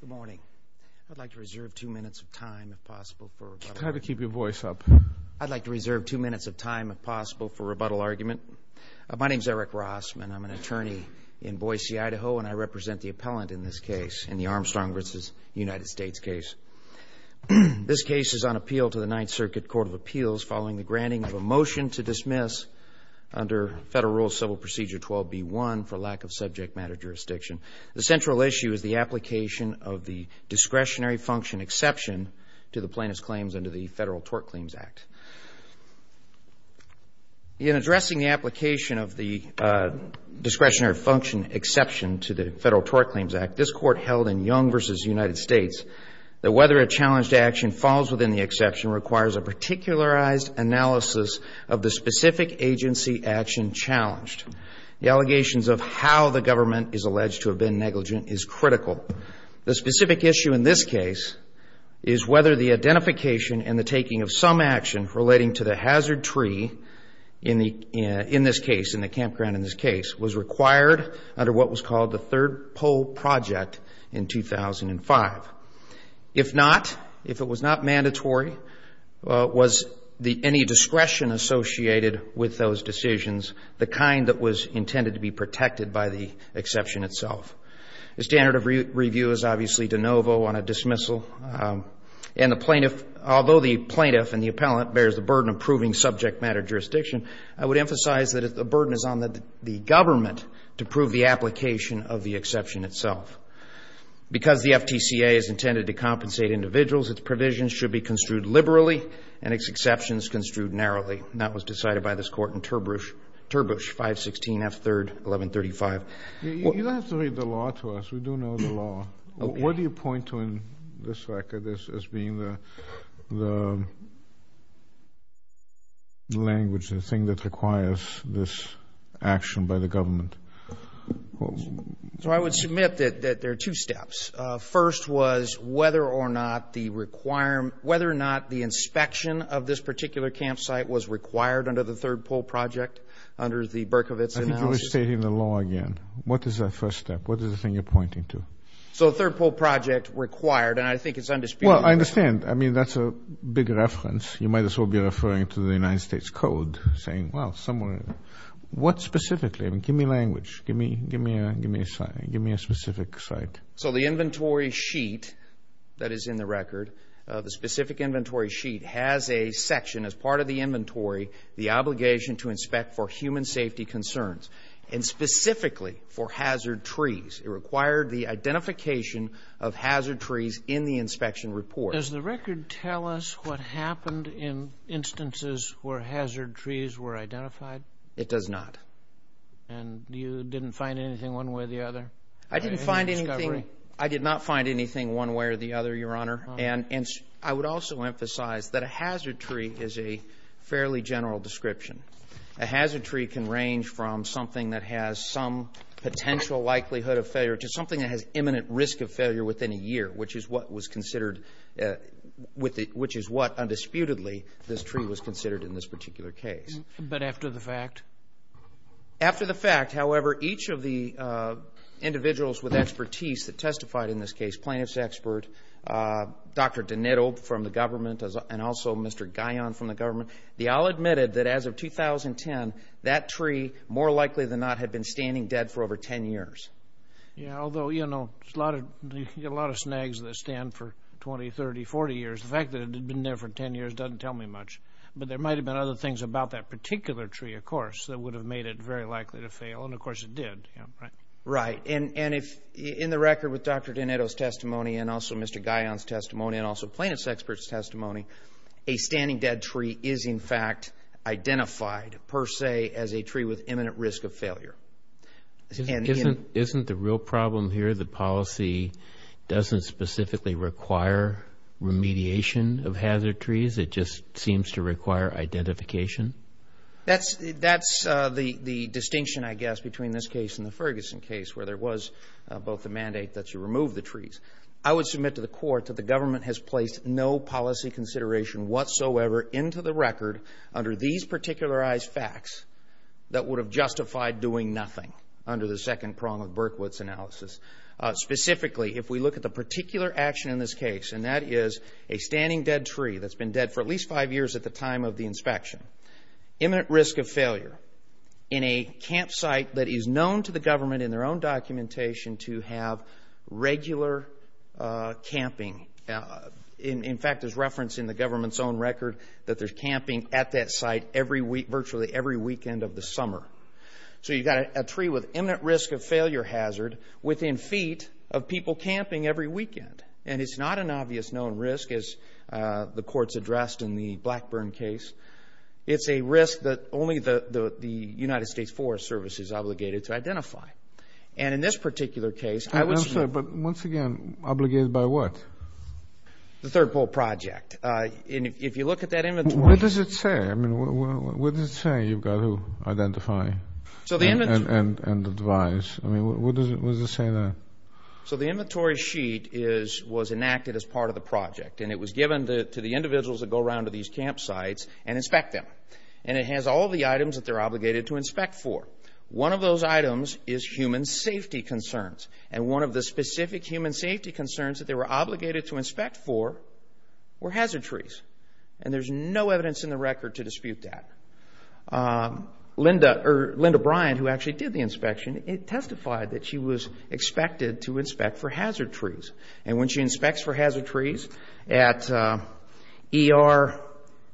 Good morning. I'd like to reserve two minutes of time if possible for rebuttal argument. Try to keep your voice up. I'd like to reserve two minutes of time if possible for rebuttal argument. My name is Eric Rossman. I'm an attorney in Boise, Idaho, and I represent the appellant in this case, in the Armstrong v. United States case. This case is on appeal to the Ninth Circuit Court of Appeals following the granting of a motion to dismiss under Federal Rule Civil Procedure 12B1 for lack of subject matter jurisdiction. The central issue is the application of the discretionary function exception to the plaintiff's claims under the Federal Tort Claims Act. In addressing the application of the discretionary function exception to the Federal Tort Claims Act, this Court held in Young v. United States that whether a challenged action falls within the exception requires a particularized analysis of the specific agency action challenged. The allegations of how the government is alleged to have been negligent is critical. The specific issue in this case is whether the identification and the taking of some action relating to the hazard tree in this case, in the campground in this case, was required under what was called the Third Pole Project in 2005. If not, if it was not mandatory, was any discretion associated with those decisions the kind that was intended to be protected by the exception itself? The standard of review is obviously de novo on a dismissal. And the plaintiff, although the plaintiff and the appellant bears the burden of proving subject matter jurisdiction, I would emphasize that the burden is on the government to prove the application of the exception itself. Because the FTCA is intended to compensate individuals, its provisions should be construed liberally and its exceptions construed narrowly. And that was decided by this Court in Turbush, 516 F. 3rd, 1135. You don't have to read the law to us. We do know the law. What do you point to in this record as being the language, the thing that requires this action by the government? So I would submit that there are two steps. First was whether or not the inspection of this particular campsite was required under the Third Pole Project, under the Berkovits analysis. I think you're restating the law again. What is that first step? What is the thing you're pointing to? So Third Pole Project required, and I think it's undisputed. Well, I understand. I mean, that's a big reference. You might as well be referring to the United States Code saying, well, somewhere, what specifically? Give me language. Give me a specific site. So the inventory sheet that is in the record, the specific inventory sheet, has a section as part of the inventory, the obligation to inspect for human safety concerns, and specifically for hazard trees. It required the identification of hazard trees in the inspection report. Does the record tell us what happened in instances where hazard trees were identified? It does not. And you didn't find anything one way or the other? I didn't find anything. I did not find anything one way or the other, Your Honor. And I would also emphasize that a hazard tree is a fairly general description. A hazard tree can range from something that has some potential likelihood of failure to something that has imminent risk of failure within a year, which is what was considered, which is what, undisputedly, this tree was considered in this particular case. But after the fact? After the fact, however, each of the individuals with expertise that testified in this case, plaintiff's expert, Dr. Donato from the government, and also Mr. Guyon from the government, they all admitted that as of 2010, that tree more likely than not had been standing dead for over 10 years. Yeah, although, you know, there's a lot of snags that stand for 20, 30, 40 years. The fact that it had been there for 10 years doesn't tell me much. But there might have been other things about that particular tree, of course, that would have made it very likely to fail. And, of course, it did. Right. And in the record with Dr. Donato's testimony and also Mr. Guyon's testimony and also plaintiff's expert's testimony, a standing dead tree is, in fact, identified per se as a tree with imminent risk of failure. Isn't the real problem here that policy doesn't specifically require remediation of hazard trees? It just seems to require identification? That's the distinction, I guess, between this case and the Ferguson case where there was both the mandate that you remove the trees. I would submit to the court that the government has placed no policy consideration whatsoever into the record under these particularized facts that would have justified doing nothing under the second prong of Berkwood's analysis. Specifically, if we look at the particular action in this case, and that is a standing dead tree that's been dead for at least five years at the time of the inspection. Imminent risk of failure in a campsite that is known to the government in their own documentation to have regular camping. In fact, there's reference in the government's own record that there's camping at that site virtually every weekend of the summer. So you've got a tree with imminent risk of failure hazard within feet of people camping every weekend. And it's not an obvious known risk, as the court's addressed in the Blackburn case. It's a risk that only the United States Forest Service is obligated to identify. And in this particular case... I'm sorry, but once again, obligated by what? The Third Pole Project. If you look at that inventory... What does it say? What does it say you've got to identify and advise? What does it say there? So the inventory sheet was enacted as part of the project, and it was given to the individuals that go around to these campsites and inspect them. And it has all the items that they're obligated to inspect for. One of those items is human safety concerns. And one of the specific human safety concerns that they were obligated to inspect for were hazard trees. And there's no evidence in the record to dispute that. Linda Bryan, who actually did the inspection, testified that she was expected to inspect for hazard trees. And when she inspects for hazard trees, at ER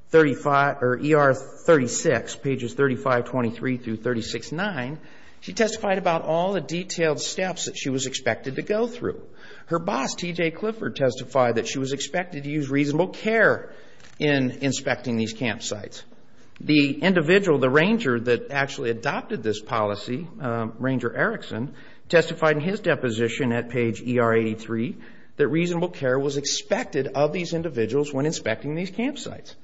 36, pages 3523 through 369, she testified about all the detailed steps that she was expected to go through. Her boss, T.J. Clifford, testified that she was expected to use reasonable care in inspecting these campsites. The individual, the ranger that actually adopted this policy, Ranger Erickson, testified in his deposition at page ER 83 that reasonable care was expected of these individuals when inspecting these campsites.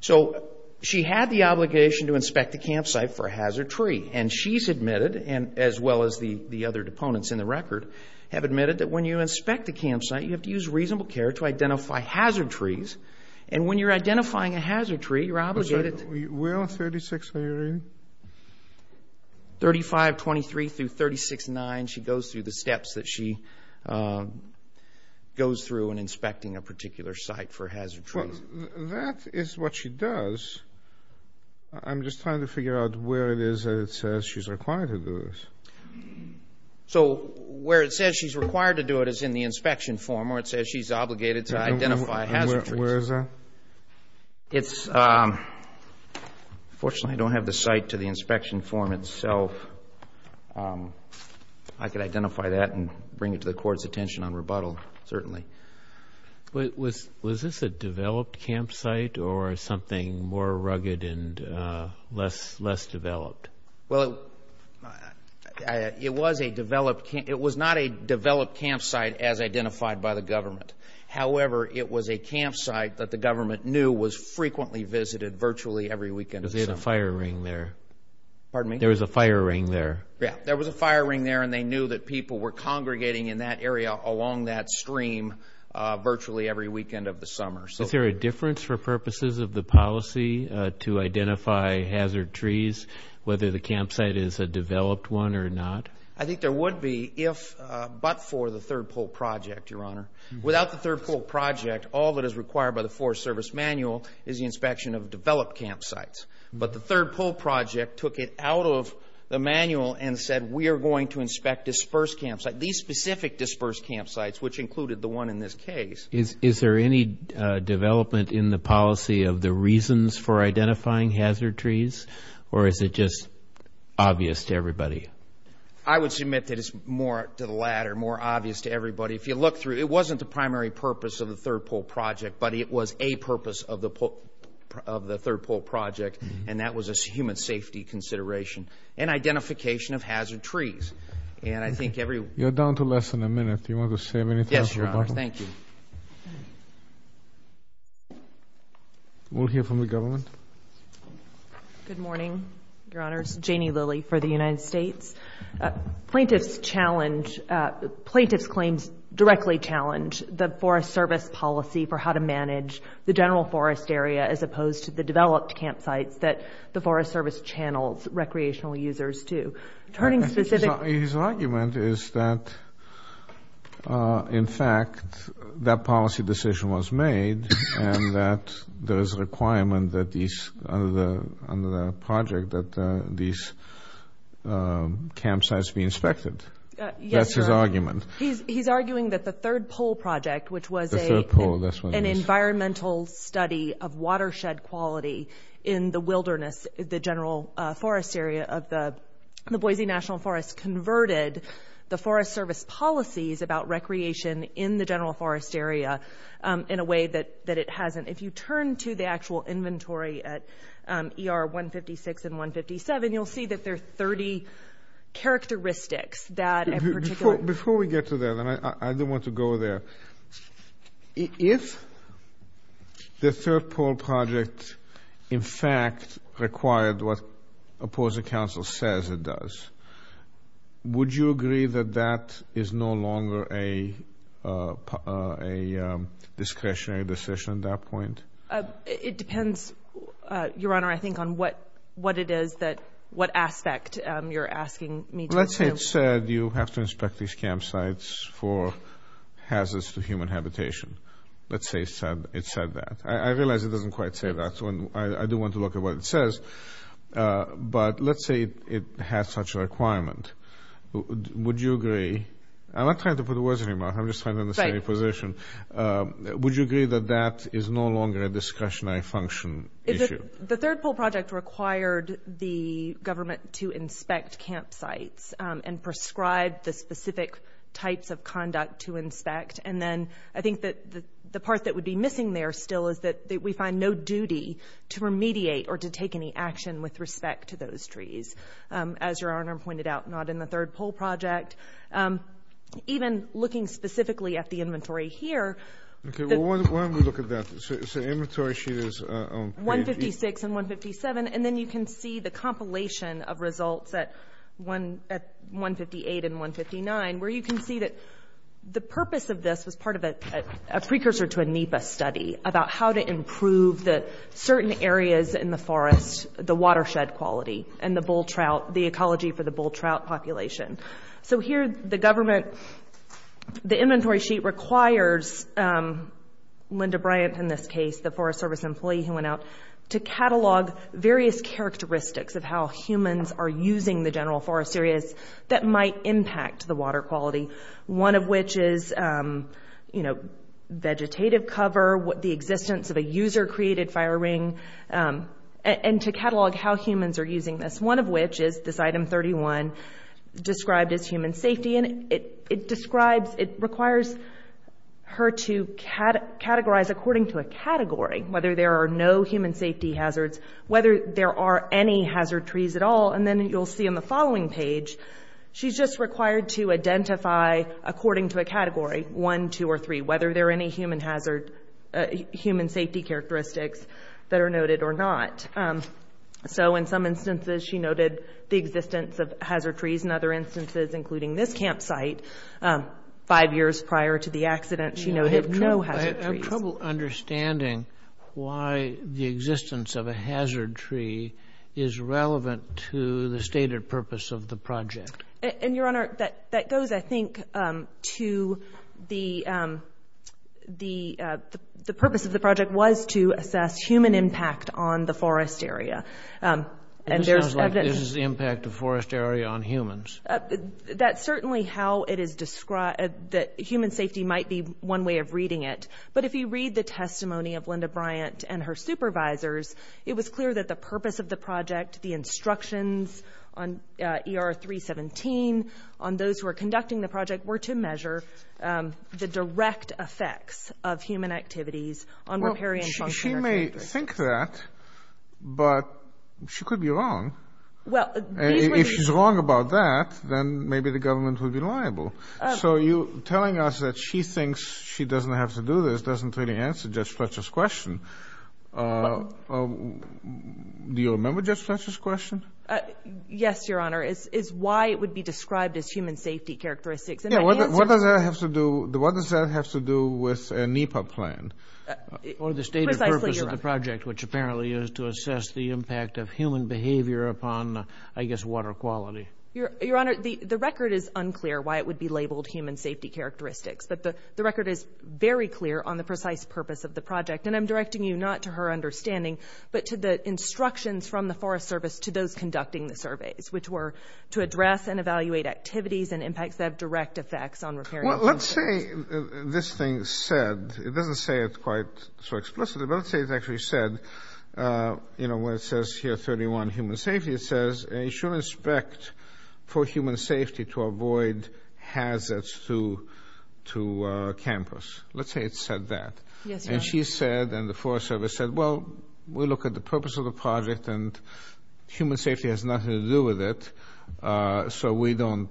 So she had the obligation to inspect the campsite for a hazard tree. And she's admitted, as well as the other deponents in the record, have admitted that when you inspect a campsite, you have to use reasonable care to identify hazard trees. And when you're identifying a hazard tree, you're obligated to... Where on 36 are you reading? 3523 through 369. She goes through the steps that she goes through when inspecting a particular site for hazard trees. Well, that is what she does. I'm just trying to figure out where it is that it says she's required to do this. So where it says she's required to do it is in the inspection form, where it says she's obligated to identify hazard trees. Where is that? It's... Unfortunately, I don't have the site to the inspection form itself. I could identify that and bring it to the Court's attention on rebuttal, certainly. Was this a developed campsite or something more rugged and less developed? Well, it was a developed campsite. It was not a developed campsite as identified by the government. However, it was a campsite that the government knew was frequently visited virtually every weekend of the summer. There was a fire ring there. Pardon me? There was a fire ring there. Yeah, there was a fire ring there, and they knew that people were congregating in that area along that stream virtually every weekend of the summer. Is there a difference for purposes of the policy to identify hazard trees, whether the campsite is a developed one or not? I think there would be if but for the Third Pole Project, Your Honor. Without the Third Pole Project, all that is required by the Forest Service manual is the inspection of developed campsites. But the Third Pole Project took it out of the manual and said we are going to inspect dispersed campsites, these specific dispersed campsites, which included the one in this case. Is there any development in the policy of the reasons for identifying hazard trees, or is it just obvious to everybody? If you look through, it wasn't the primary purpose of the Third Pole Project, but it was a purpose of the Third Pole Project, and that was a human safety consideration and identification of hazard trees. You're down to less than a minute. Do you want to say anything? Yes, Your Honor. Thank you. We'll hear from the government. Good morning, Your Honors. Janie Lilly for the United States. Plaintiffs challenge, plaintiffs' claims directly challenge the Forest Service policy for how to manage the general forest area as opposed to the developed campsites that the Forest Service channels recreational users to. His argument is that, in fact, that policy decision was made and that there is a requirement under the project that these campsites be inspected. That's his argument. He's arguing that the Third Pole Project, which was an environmental study of watershed quality in the wilderness, the general forest area of the Boise National Forest, converted the Forest Service policies about recreation in the general forest area in a way that it hasn't. If you turn to the actual inventory at ER 156 and 157, you'll see that there are 30 characteristics that in particular. Before we get to that, I do want to go there. If the Third Pole Project, in fact, required what opposing counsel says it does, would you agree that that is no longer a discretionary decision at that point? It depends, Your Honor, I think, on what it is that what aspect you're asking me to assume. Let's say it said you have to inspect these campsites for hazards to human habitation. Let's say it said that. I realize it doesn't quite say that, so I do want to look at what it says. But let's say it has such a requirement. Would you agree? I'm not trying to put words in your mouth. I'm just trying to understand your position. Would you agree that that is no longer a discretionary function issue? The Third Pole Project required the government to inspect campsites and prescribe the specific types of conduct to inspect. And then I think that the part that would be missing there still is that we find no duty to remediate or to take any action with respect to those trees. As Your Honor pointed out, not in the Third Pole Project. Even looking specifically at the inventory here. Okay, well, why don't we look at that? So the inventory sheet is on page 8. 156 and 157. And then you can see the compilation of results at 158 and 159, where you can see that the purpose of this was part of a precursor to a NEPA study about how to improve certain areas in the forest, the watershed quality, and the bull trout, the ecology for the bull trout population. So here the government, the inventory sheet requires Linda Bryant in this case, the Forest Service employee who went out, to catalog various characteristics of how humans are using the general forest areas that might impact the water quality, one of which is, you know, the existence of a user-created fire ring, and to catalog how humans are using this, one of which is this item 31, described as human safety. And it describes, it requires her to categorize according to a category, whether there are no human safety hazards, whether there are any hazard trees at all. And then you'll see on the following page, she's just required to identify according to a category, one, two, or three, whether there are any human safety characteristics that are noted or not. So in some instances she noted the existence of hazard trees, in other instances, including this campsite, five years prior to the accident, she noted no hazard trees. I have trouble understanding why the existence of a hazard tree is relevant to the stated purpose of the project. And, Your Honor, that goes, I think, to the purpose of the project was to assess human impact on the forest area. This is the impact of forest area on humans. That's certainly how it is described, that human safety might be one way of reading it. But if you read the testimony of Linda Bryant and her supervisors, it was clear that the purpose of the project, the instructions on ER 317, on those who are conducting the project, were to measure the direct effects of human activities on riparian function. Well, she may think that, but she could be wrong. If she's wrong about that, then maybe the government would be liable. So you're telling us that she thinks she doesn't have to do this doesn't really answer Judge Fletcher's question. Do you remember Judge Fletcher's question? Yes, Your Honor. It's why it would be described as human safety characteristics. What does that have to do with a NEPA plan? Or the stated purpose of the project, which apparently is to assess the impact of human behavior upon, I guess, water quality. Your Honor, the record is unclear why it would be labeled human safety characteristics. But the record is very clear on the precise purpose of the project. And I'm directing you not to her understanding, but to the instructions from the Forest Service to those conducting the surveys, which were to address and evaluate activities and impacts that have direct effects on riparian function. Well, let's say this thing said, it doesn't say it quite so explicitly, but let's say it actually said, you know, when it says here, 31, human safety, it says you should inspect for human safety to avoid hazards to campus. Let's say it said that. Yes, Your Honor. And she said and the Forest Service said, well, we look at the purpose of the project and human safety has nothing to do with it, so we don't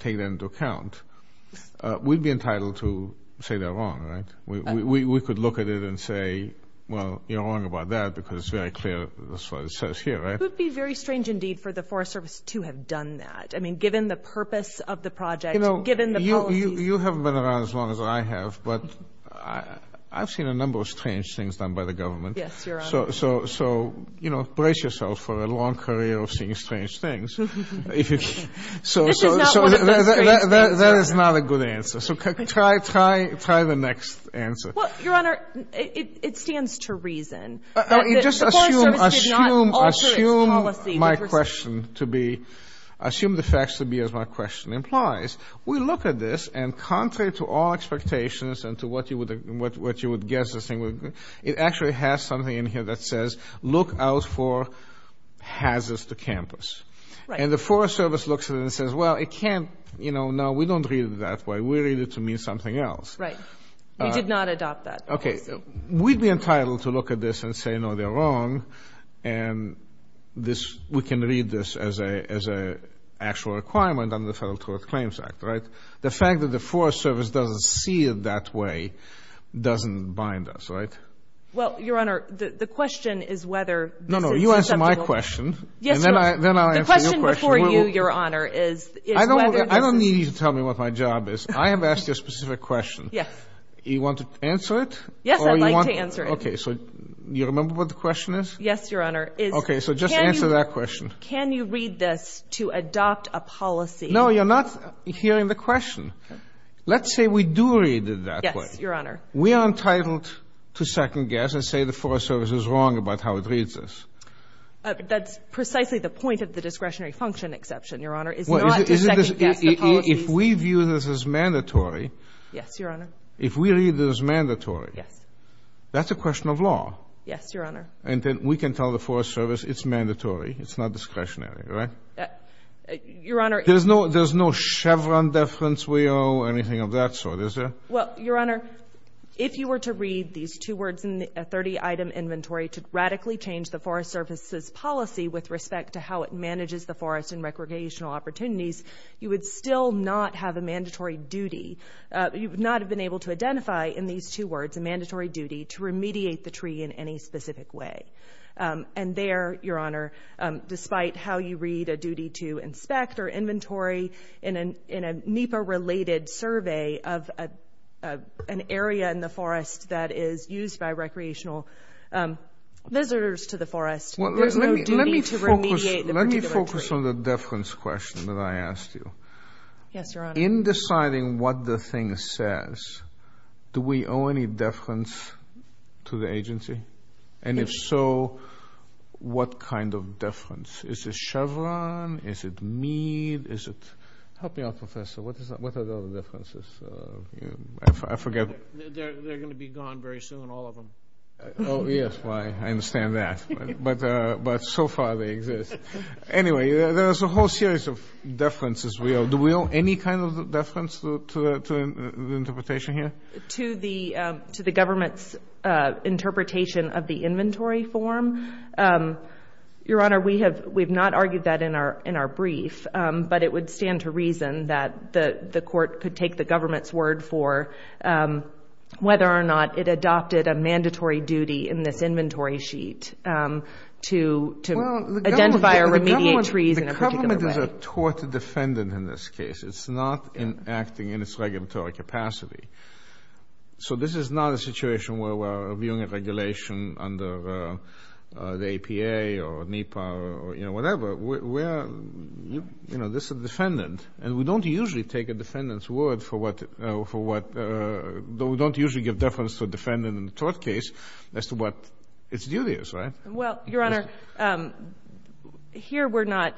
take that into account. We'd be entitled to say they're wrong, right? We could look at it and say, well, you're wrong about that because it's very clear, that's what it says here, right? It would be very strange indeed for the Forest Service to have done that. I mean, given the purpose of the project, given the policies. Well, you haven't been around as long as I have, but I've seen a number of strange things done by the government. Yes, Your Honor. So, you know, brace yourself for a long career of seeing strange things. This is not one of those strange things. That is not a good answer. So try the next answer. Well, Your Honor, it stands to reason. The Forest Service did not alter its policy. Assume my question to be, assume the facts to be as my question implies. We look at this, and contrary to all expectations and to what you would guess, it actually has something in here that says, look out for hazards to campus. And the Forest Service looks at it and says, well, it can't, you know, no, we don't read it that way. We read it to mean something else. Right. We did not adopt that policy. Okay. We'd be entitled to look at this and say, no, they're wrong, and we can read this as an actual requirement under the Federal Tort Claims Act, right? The fact that the Forest Service doesn't see it that way doesn't bind us, right? Well, Your Honor, the question is whether this is susceptible. No, no, you answer my question. Yes, Your Honor. The question before you, Your Honor, is whether this is. I don't need you to tell me what my job is. I have asked you a specific question. Yes. You want to answer it? Yes, I'd like to answer it. Okay, so you remember what the question is? Yes, Your Honor. Okay, so just answer that question. Can you read this to adopt a policy? No, you're not hearing the question. Let's say we do read it that way. Yes, Your Honor. We are entitled to second-guess and say the Forest Service is wrong about how it reads this. That's precisely the point of the discretionary function exception, Your Honor, is not to second-guess the policy. If we view this as mandatory. Yes, Your Honor. If we read this as mandatory. Yes. That's a question of law. Yes, Your Honor. And then we can tell the Forest Service it's mandatory. It's not discretionary, right? Your Honor. There's no Chevron deference we owe or anything of that sort, is there? Well, Your Honor, if you were to read these two words in a 30-item inventory to radically change the Forest Service's policy with respect to how it manages the forest and recreational opportunities, you would still not have a mandatory duty. You would not have been able to identify in these two words a mandatory duty to remediate the tree in any specific way. And there, Your Honor, despite how you read a duty to inspect or inventory in a NEPA-related survey of an area in the forest that is used by recreational visitors to the forest, there's no duty to remediate the particular tree. Let me focus on the deference question that I asked you. Yes, Your Honor. In deciding what the thing says, do we owe any deference to the agency? And if so, what kind of deference? Is it Chevron? Is it Mead? Help me out, Professor. What are the other deferences? I forget. They're going to be gone very soon, all of them. Oh, yes. I understand that. But so far, they exist. Anyway, there's a whole series of deferences we owe. Do we owe any kind of deference to the interpretation here? To the government's interpretation of the inventory form. Your Honor, we have not argued that in our brief, but it would stand to reason that the court could take the government's word for whether or not it adopted a mandatory duty in this inventory sheet to identify or remediate trees in a particular way. This is a tort defendant in this case. It's not acting in its regulatory capacity. So this is not a situation where we're reviewing a regulation under the APA or NEPA or, you know, whatever. We're, you know, this is a defendant. And we don't usually take a defendant's word for what, we don't usually give deference to a defendant in a tort case as to what its duty is, right? Well, Your Honor, here we're not,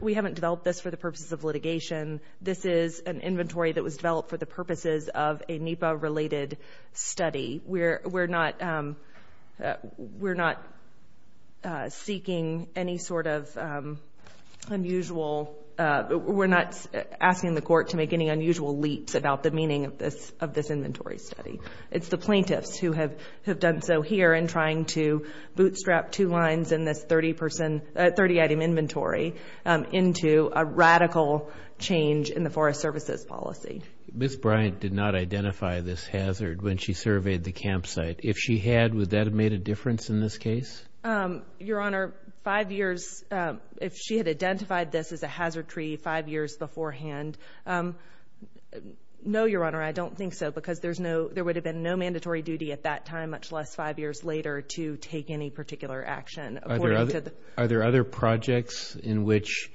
we haven't developed this for the purposes of litigation. This is an inventory that was developed for the purposes of a NEPA-related study. We're not seeking any sort of unusual, we're not asking the court to make any unusual leaps about the meaning of this inventory study. It's the plaintiffs who have done so here in trying to bootstrap two lines in this 30-person, 30-item inventory into a radical change in the Forest Services policy. Ms. Bryant did not identify this hazard when she surveyed the campsite. If she had, would that have made a difference in this case? Your Honor, five years, if she had identified this as a hazard tree five years beforehand, no, Your Honor, I don't think so because there would have been no mandatory duty at that time, much less five years later, to take any particular action. Are there other projects in which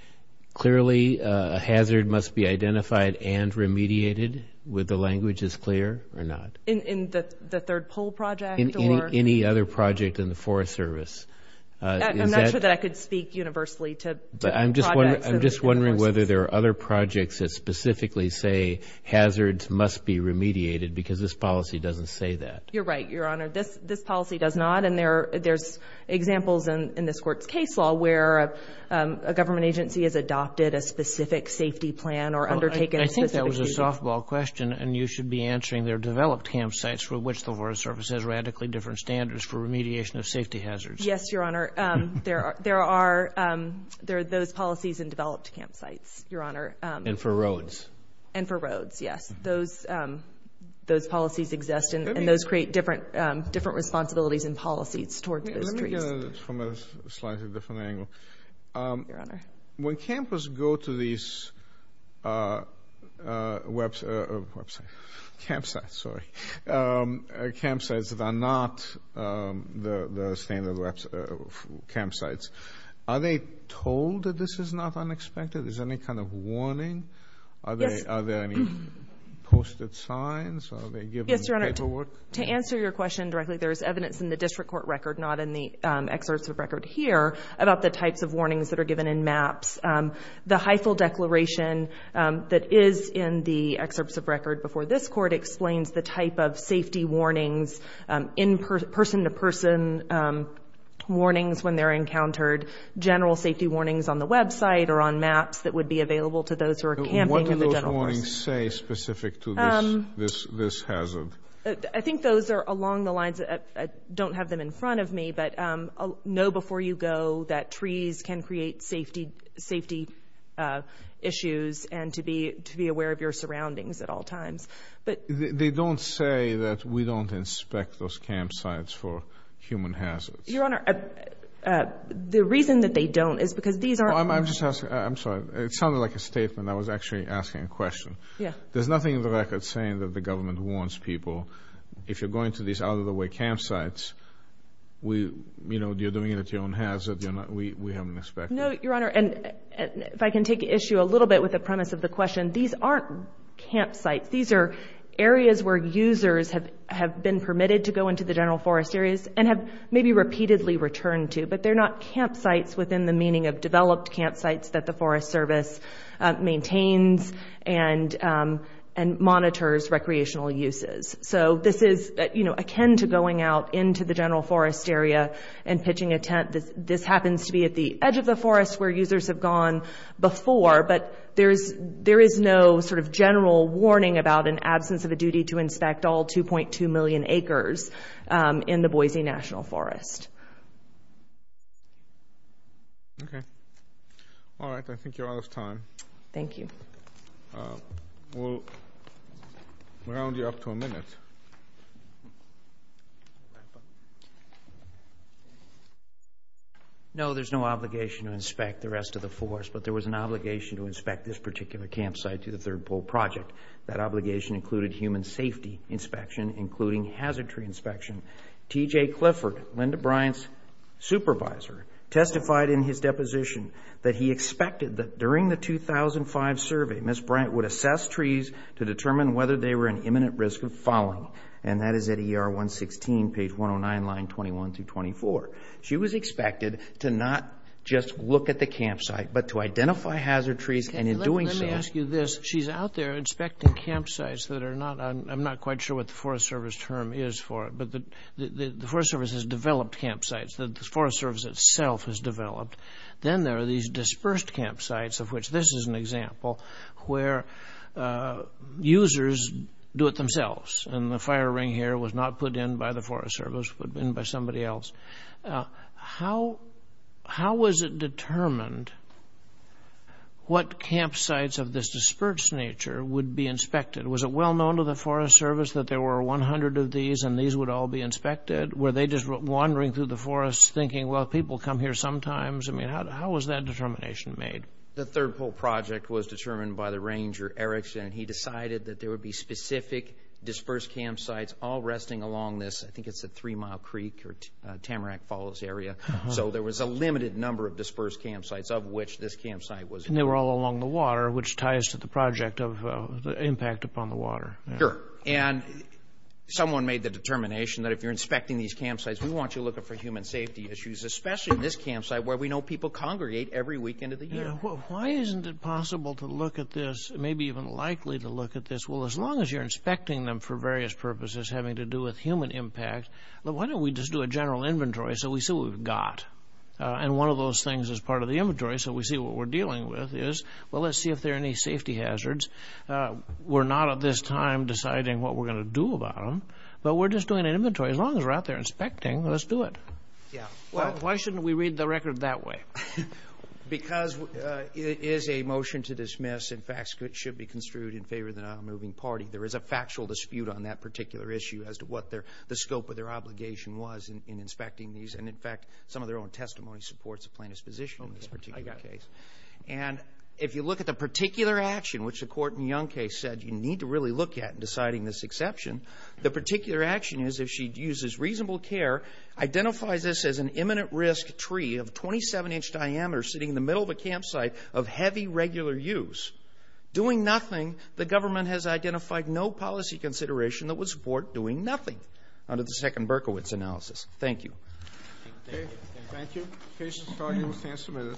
clearly a hazard must be identified and remediated with the language as clear or not? In the third pole project or? In any other project in the Forest Service. I'm not sure that I could speak universally to projects. I'm just wondering whether there are other projects that specifically say hazards must be remediated because this policy doesn't say that. You're right, Your Honor. This policy does not, and there's examples in this Court's case law where a government agency has adopted a specific safety plan or undertaken a specific safety plan. I think that was a softball question, and you should be answering they're developed campsites for which the Forest Service has radically different standards for remediation of safety hazards. Yes, Your Honor. There are those policies in developed campsites, Your Honor. And for roads. And for roads, yes. Those policies exist, and those create different responsibilities and policies towards those trees. Let me get it from a slightly different angle. Your Honor. When campers go to these campsites that are not the standard campsites, are they told that this is not unexpected? Is there any kind of warning? Yes. Are there any posted signs? Are they given paperwork? Yes, Your Honor. To answer your question directly, there is evidence in the district court record, not in the excerpts of record here, about the types of warnings that are given in maps. The Heifel Declaration that is in the excerpts of record before this Court explains the type of safety warnings, in-person to person warnings when they're encountered, general safety warnings on the website or on maps that would be available to those who are camping in the general forest. What do those warnings say specific to this hazard? I think those are along the lines of, I don't have them in front of me, but know before you go that trees can create safety issues and to be aware of your surroundings at all times. They don't say that we don't inspect those campsites for human hazards. Your Honor, the reason that they don't is because these are I'm sorry. It sounded like a statement. I was actually asking a question. Yes. There's nothing in the record saying that the government warns people. If you're going to these out-of-the-way campsites, you're doing it at your own hazard. We haven't inspected them. No, Your Honor. And if I can take issue a little bit with the premise of the question, these aren't campsites. These are areas where users have been permitted to go into the general forest areas and have maybe repeatedly returned to, but they're not campsites within the meaning of developed campsites that the Forest Service maintains and monitors recreational uses. So this is akin to going out into the general forest area and pitching a tent. This happens to be at the edge of the forest where users have gone before, but there is no sort of general warning about an absence of a duty to inspect all 2.2 million acres in the Boise National Forest. Okay. All right. I think you're out of time. Thank you. We'll round you up to a minute. No, there's no obligation to inspect the rest of the forest, but there was an obligation to inspect this particular campsite through the Third Pole Project. That obligation included human safety inspection, including hazard tree inspection. T.J. Clifford, Linda Bryant's supervisor, testified in his deposition that he expected that during the 2005 survey, Ms. Bryant would assess trees to determine whether they were an imminent risk of falling, and that is at ER 116, page 109, line 21 through 24. She was expected to not just look at the campsite, but to identify hazard trees, and in doing so – Let me ask you this. She's out there inspecting campsites that are not – I'm not quite sure what the Forest Service term is for it, but the Forest Service has developed campsites. The Forest Service itself has developed. Then there are these dispersed campsites, of which this is an example, where users do it themselves, and the fire ring here was not put in by the Forest Service. It was put in by somebody else. How was it determined what campsites of this dispersed nature would be inspected? Was it well known to the Forest Service that there were 100 of these and these would all be inspected? Were they just wandering through the forest thinking, well, people come here sometimes? I mean, how was that determination made? The Third Pole Project was determined by the ranger, Erickson, and he decided that there would be specific dispersed campsites all resting along this – I think it's the Three Mile Creek or Tamarack Falls area. So there was a limited number of dispersed campsites, of which this campsite was – and they were all along the water, which ties to the project of the impact upon the water. Sure, and someone made the determination that if you're inspecting these campsites, we want you looking for human safety issues, especially in this campsite where we know people congregate every weekend of the year. Why isn't it possible to look at this, maybe even likely to look at this? Well, as long as you're inspecting them for various purposes having to do with human impact, why don't we just do a general inventory so we see what we've got? And one of those things is part of the inventory, so we see what we're dealing with is, well, let's see if there are any safety hazards. We're not at this time deciding what we're going to do about them, but we're just doing an inventory. As long as we're out there inspecting, let's do it. Why shouldn't we read the record that way? Because it is a motion to dismiss. In fact, it should be construed in favor of the nonmoving party. There is a factual dispute on that particular issue as to what the scope of their obligation was in inspecting these. And, in fact, some of their own testimony supports a plaintiff's position in this particular case. And if you look at the particular action, which the Corton-Young case said you need to really look at in deciding this exception, the particular action is if she uses reasonable care, identifies this as an imminent risk tree of 27-inch diameter sitting in the middle of a campsite of heavy regular use, doing nothing, the government has identified no policy consideration that would support doing nothing under the second Berkowitz analysis. Thank you. Thank you.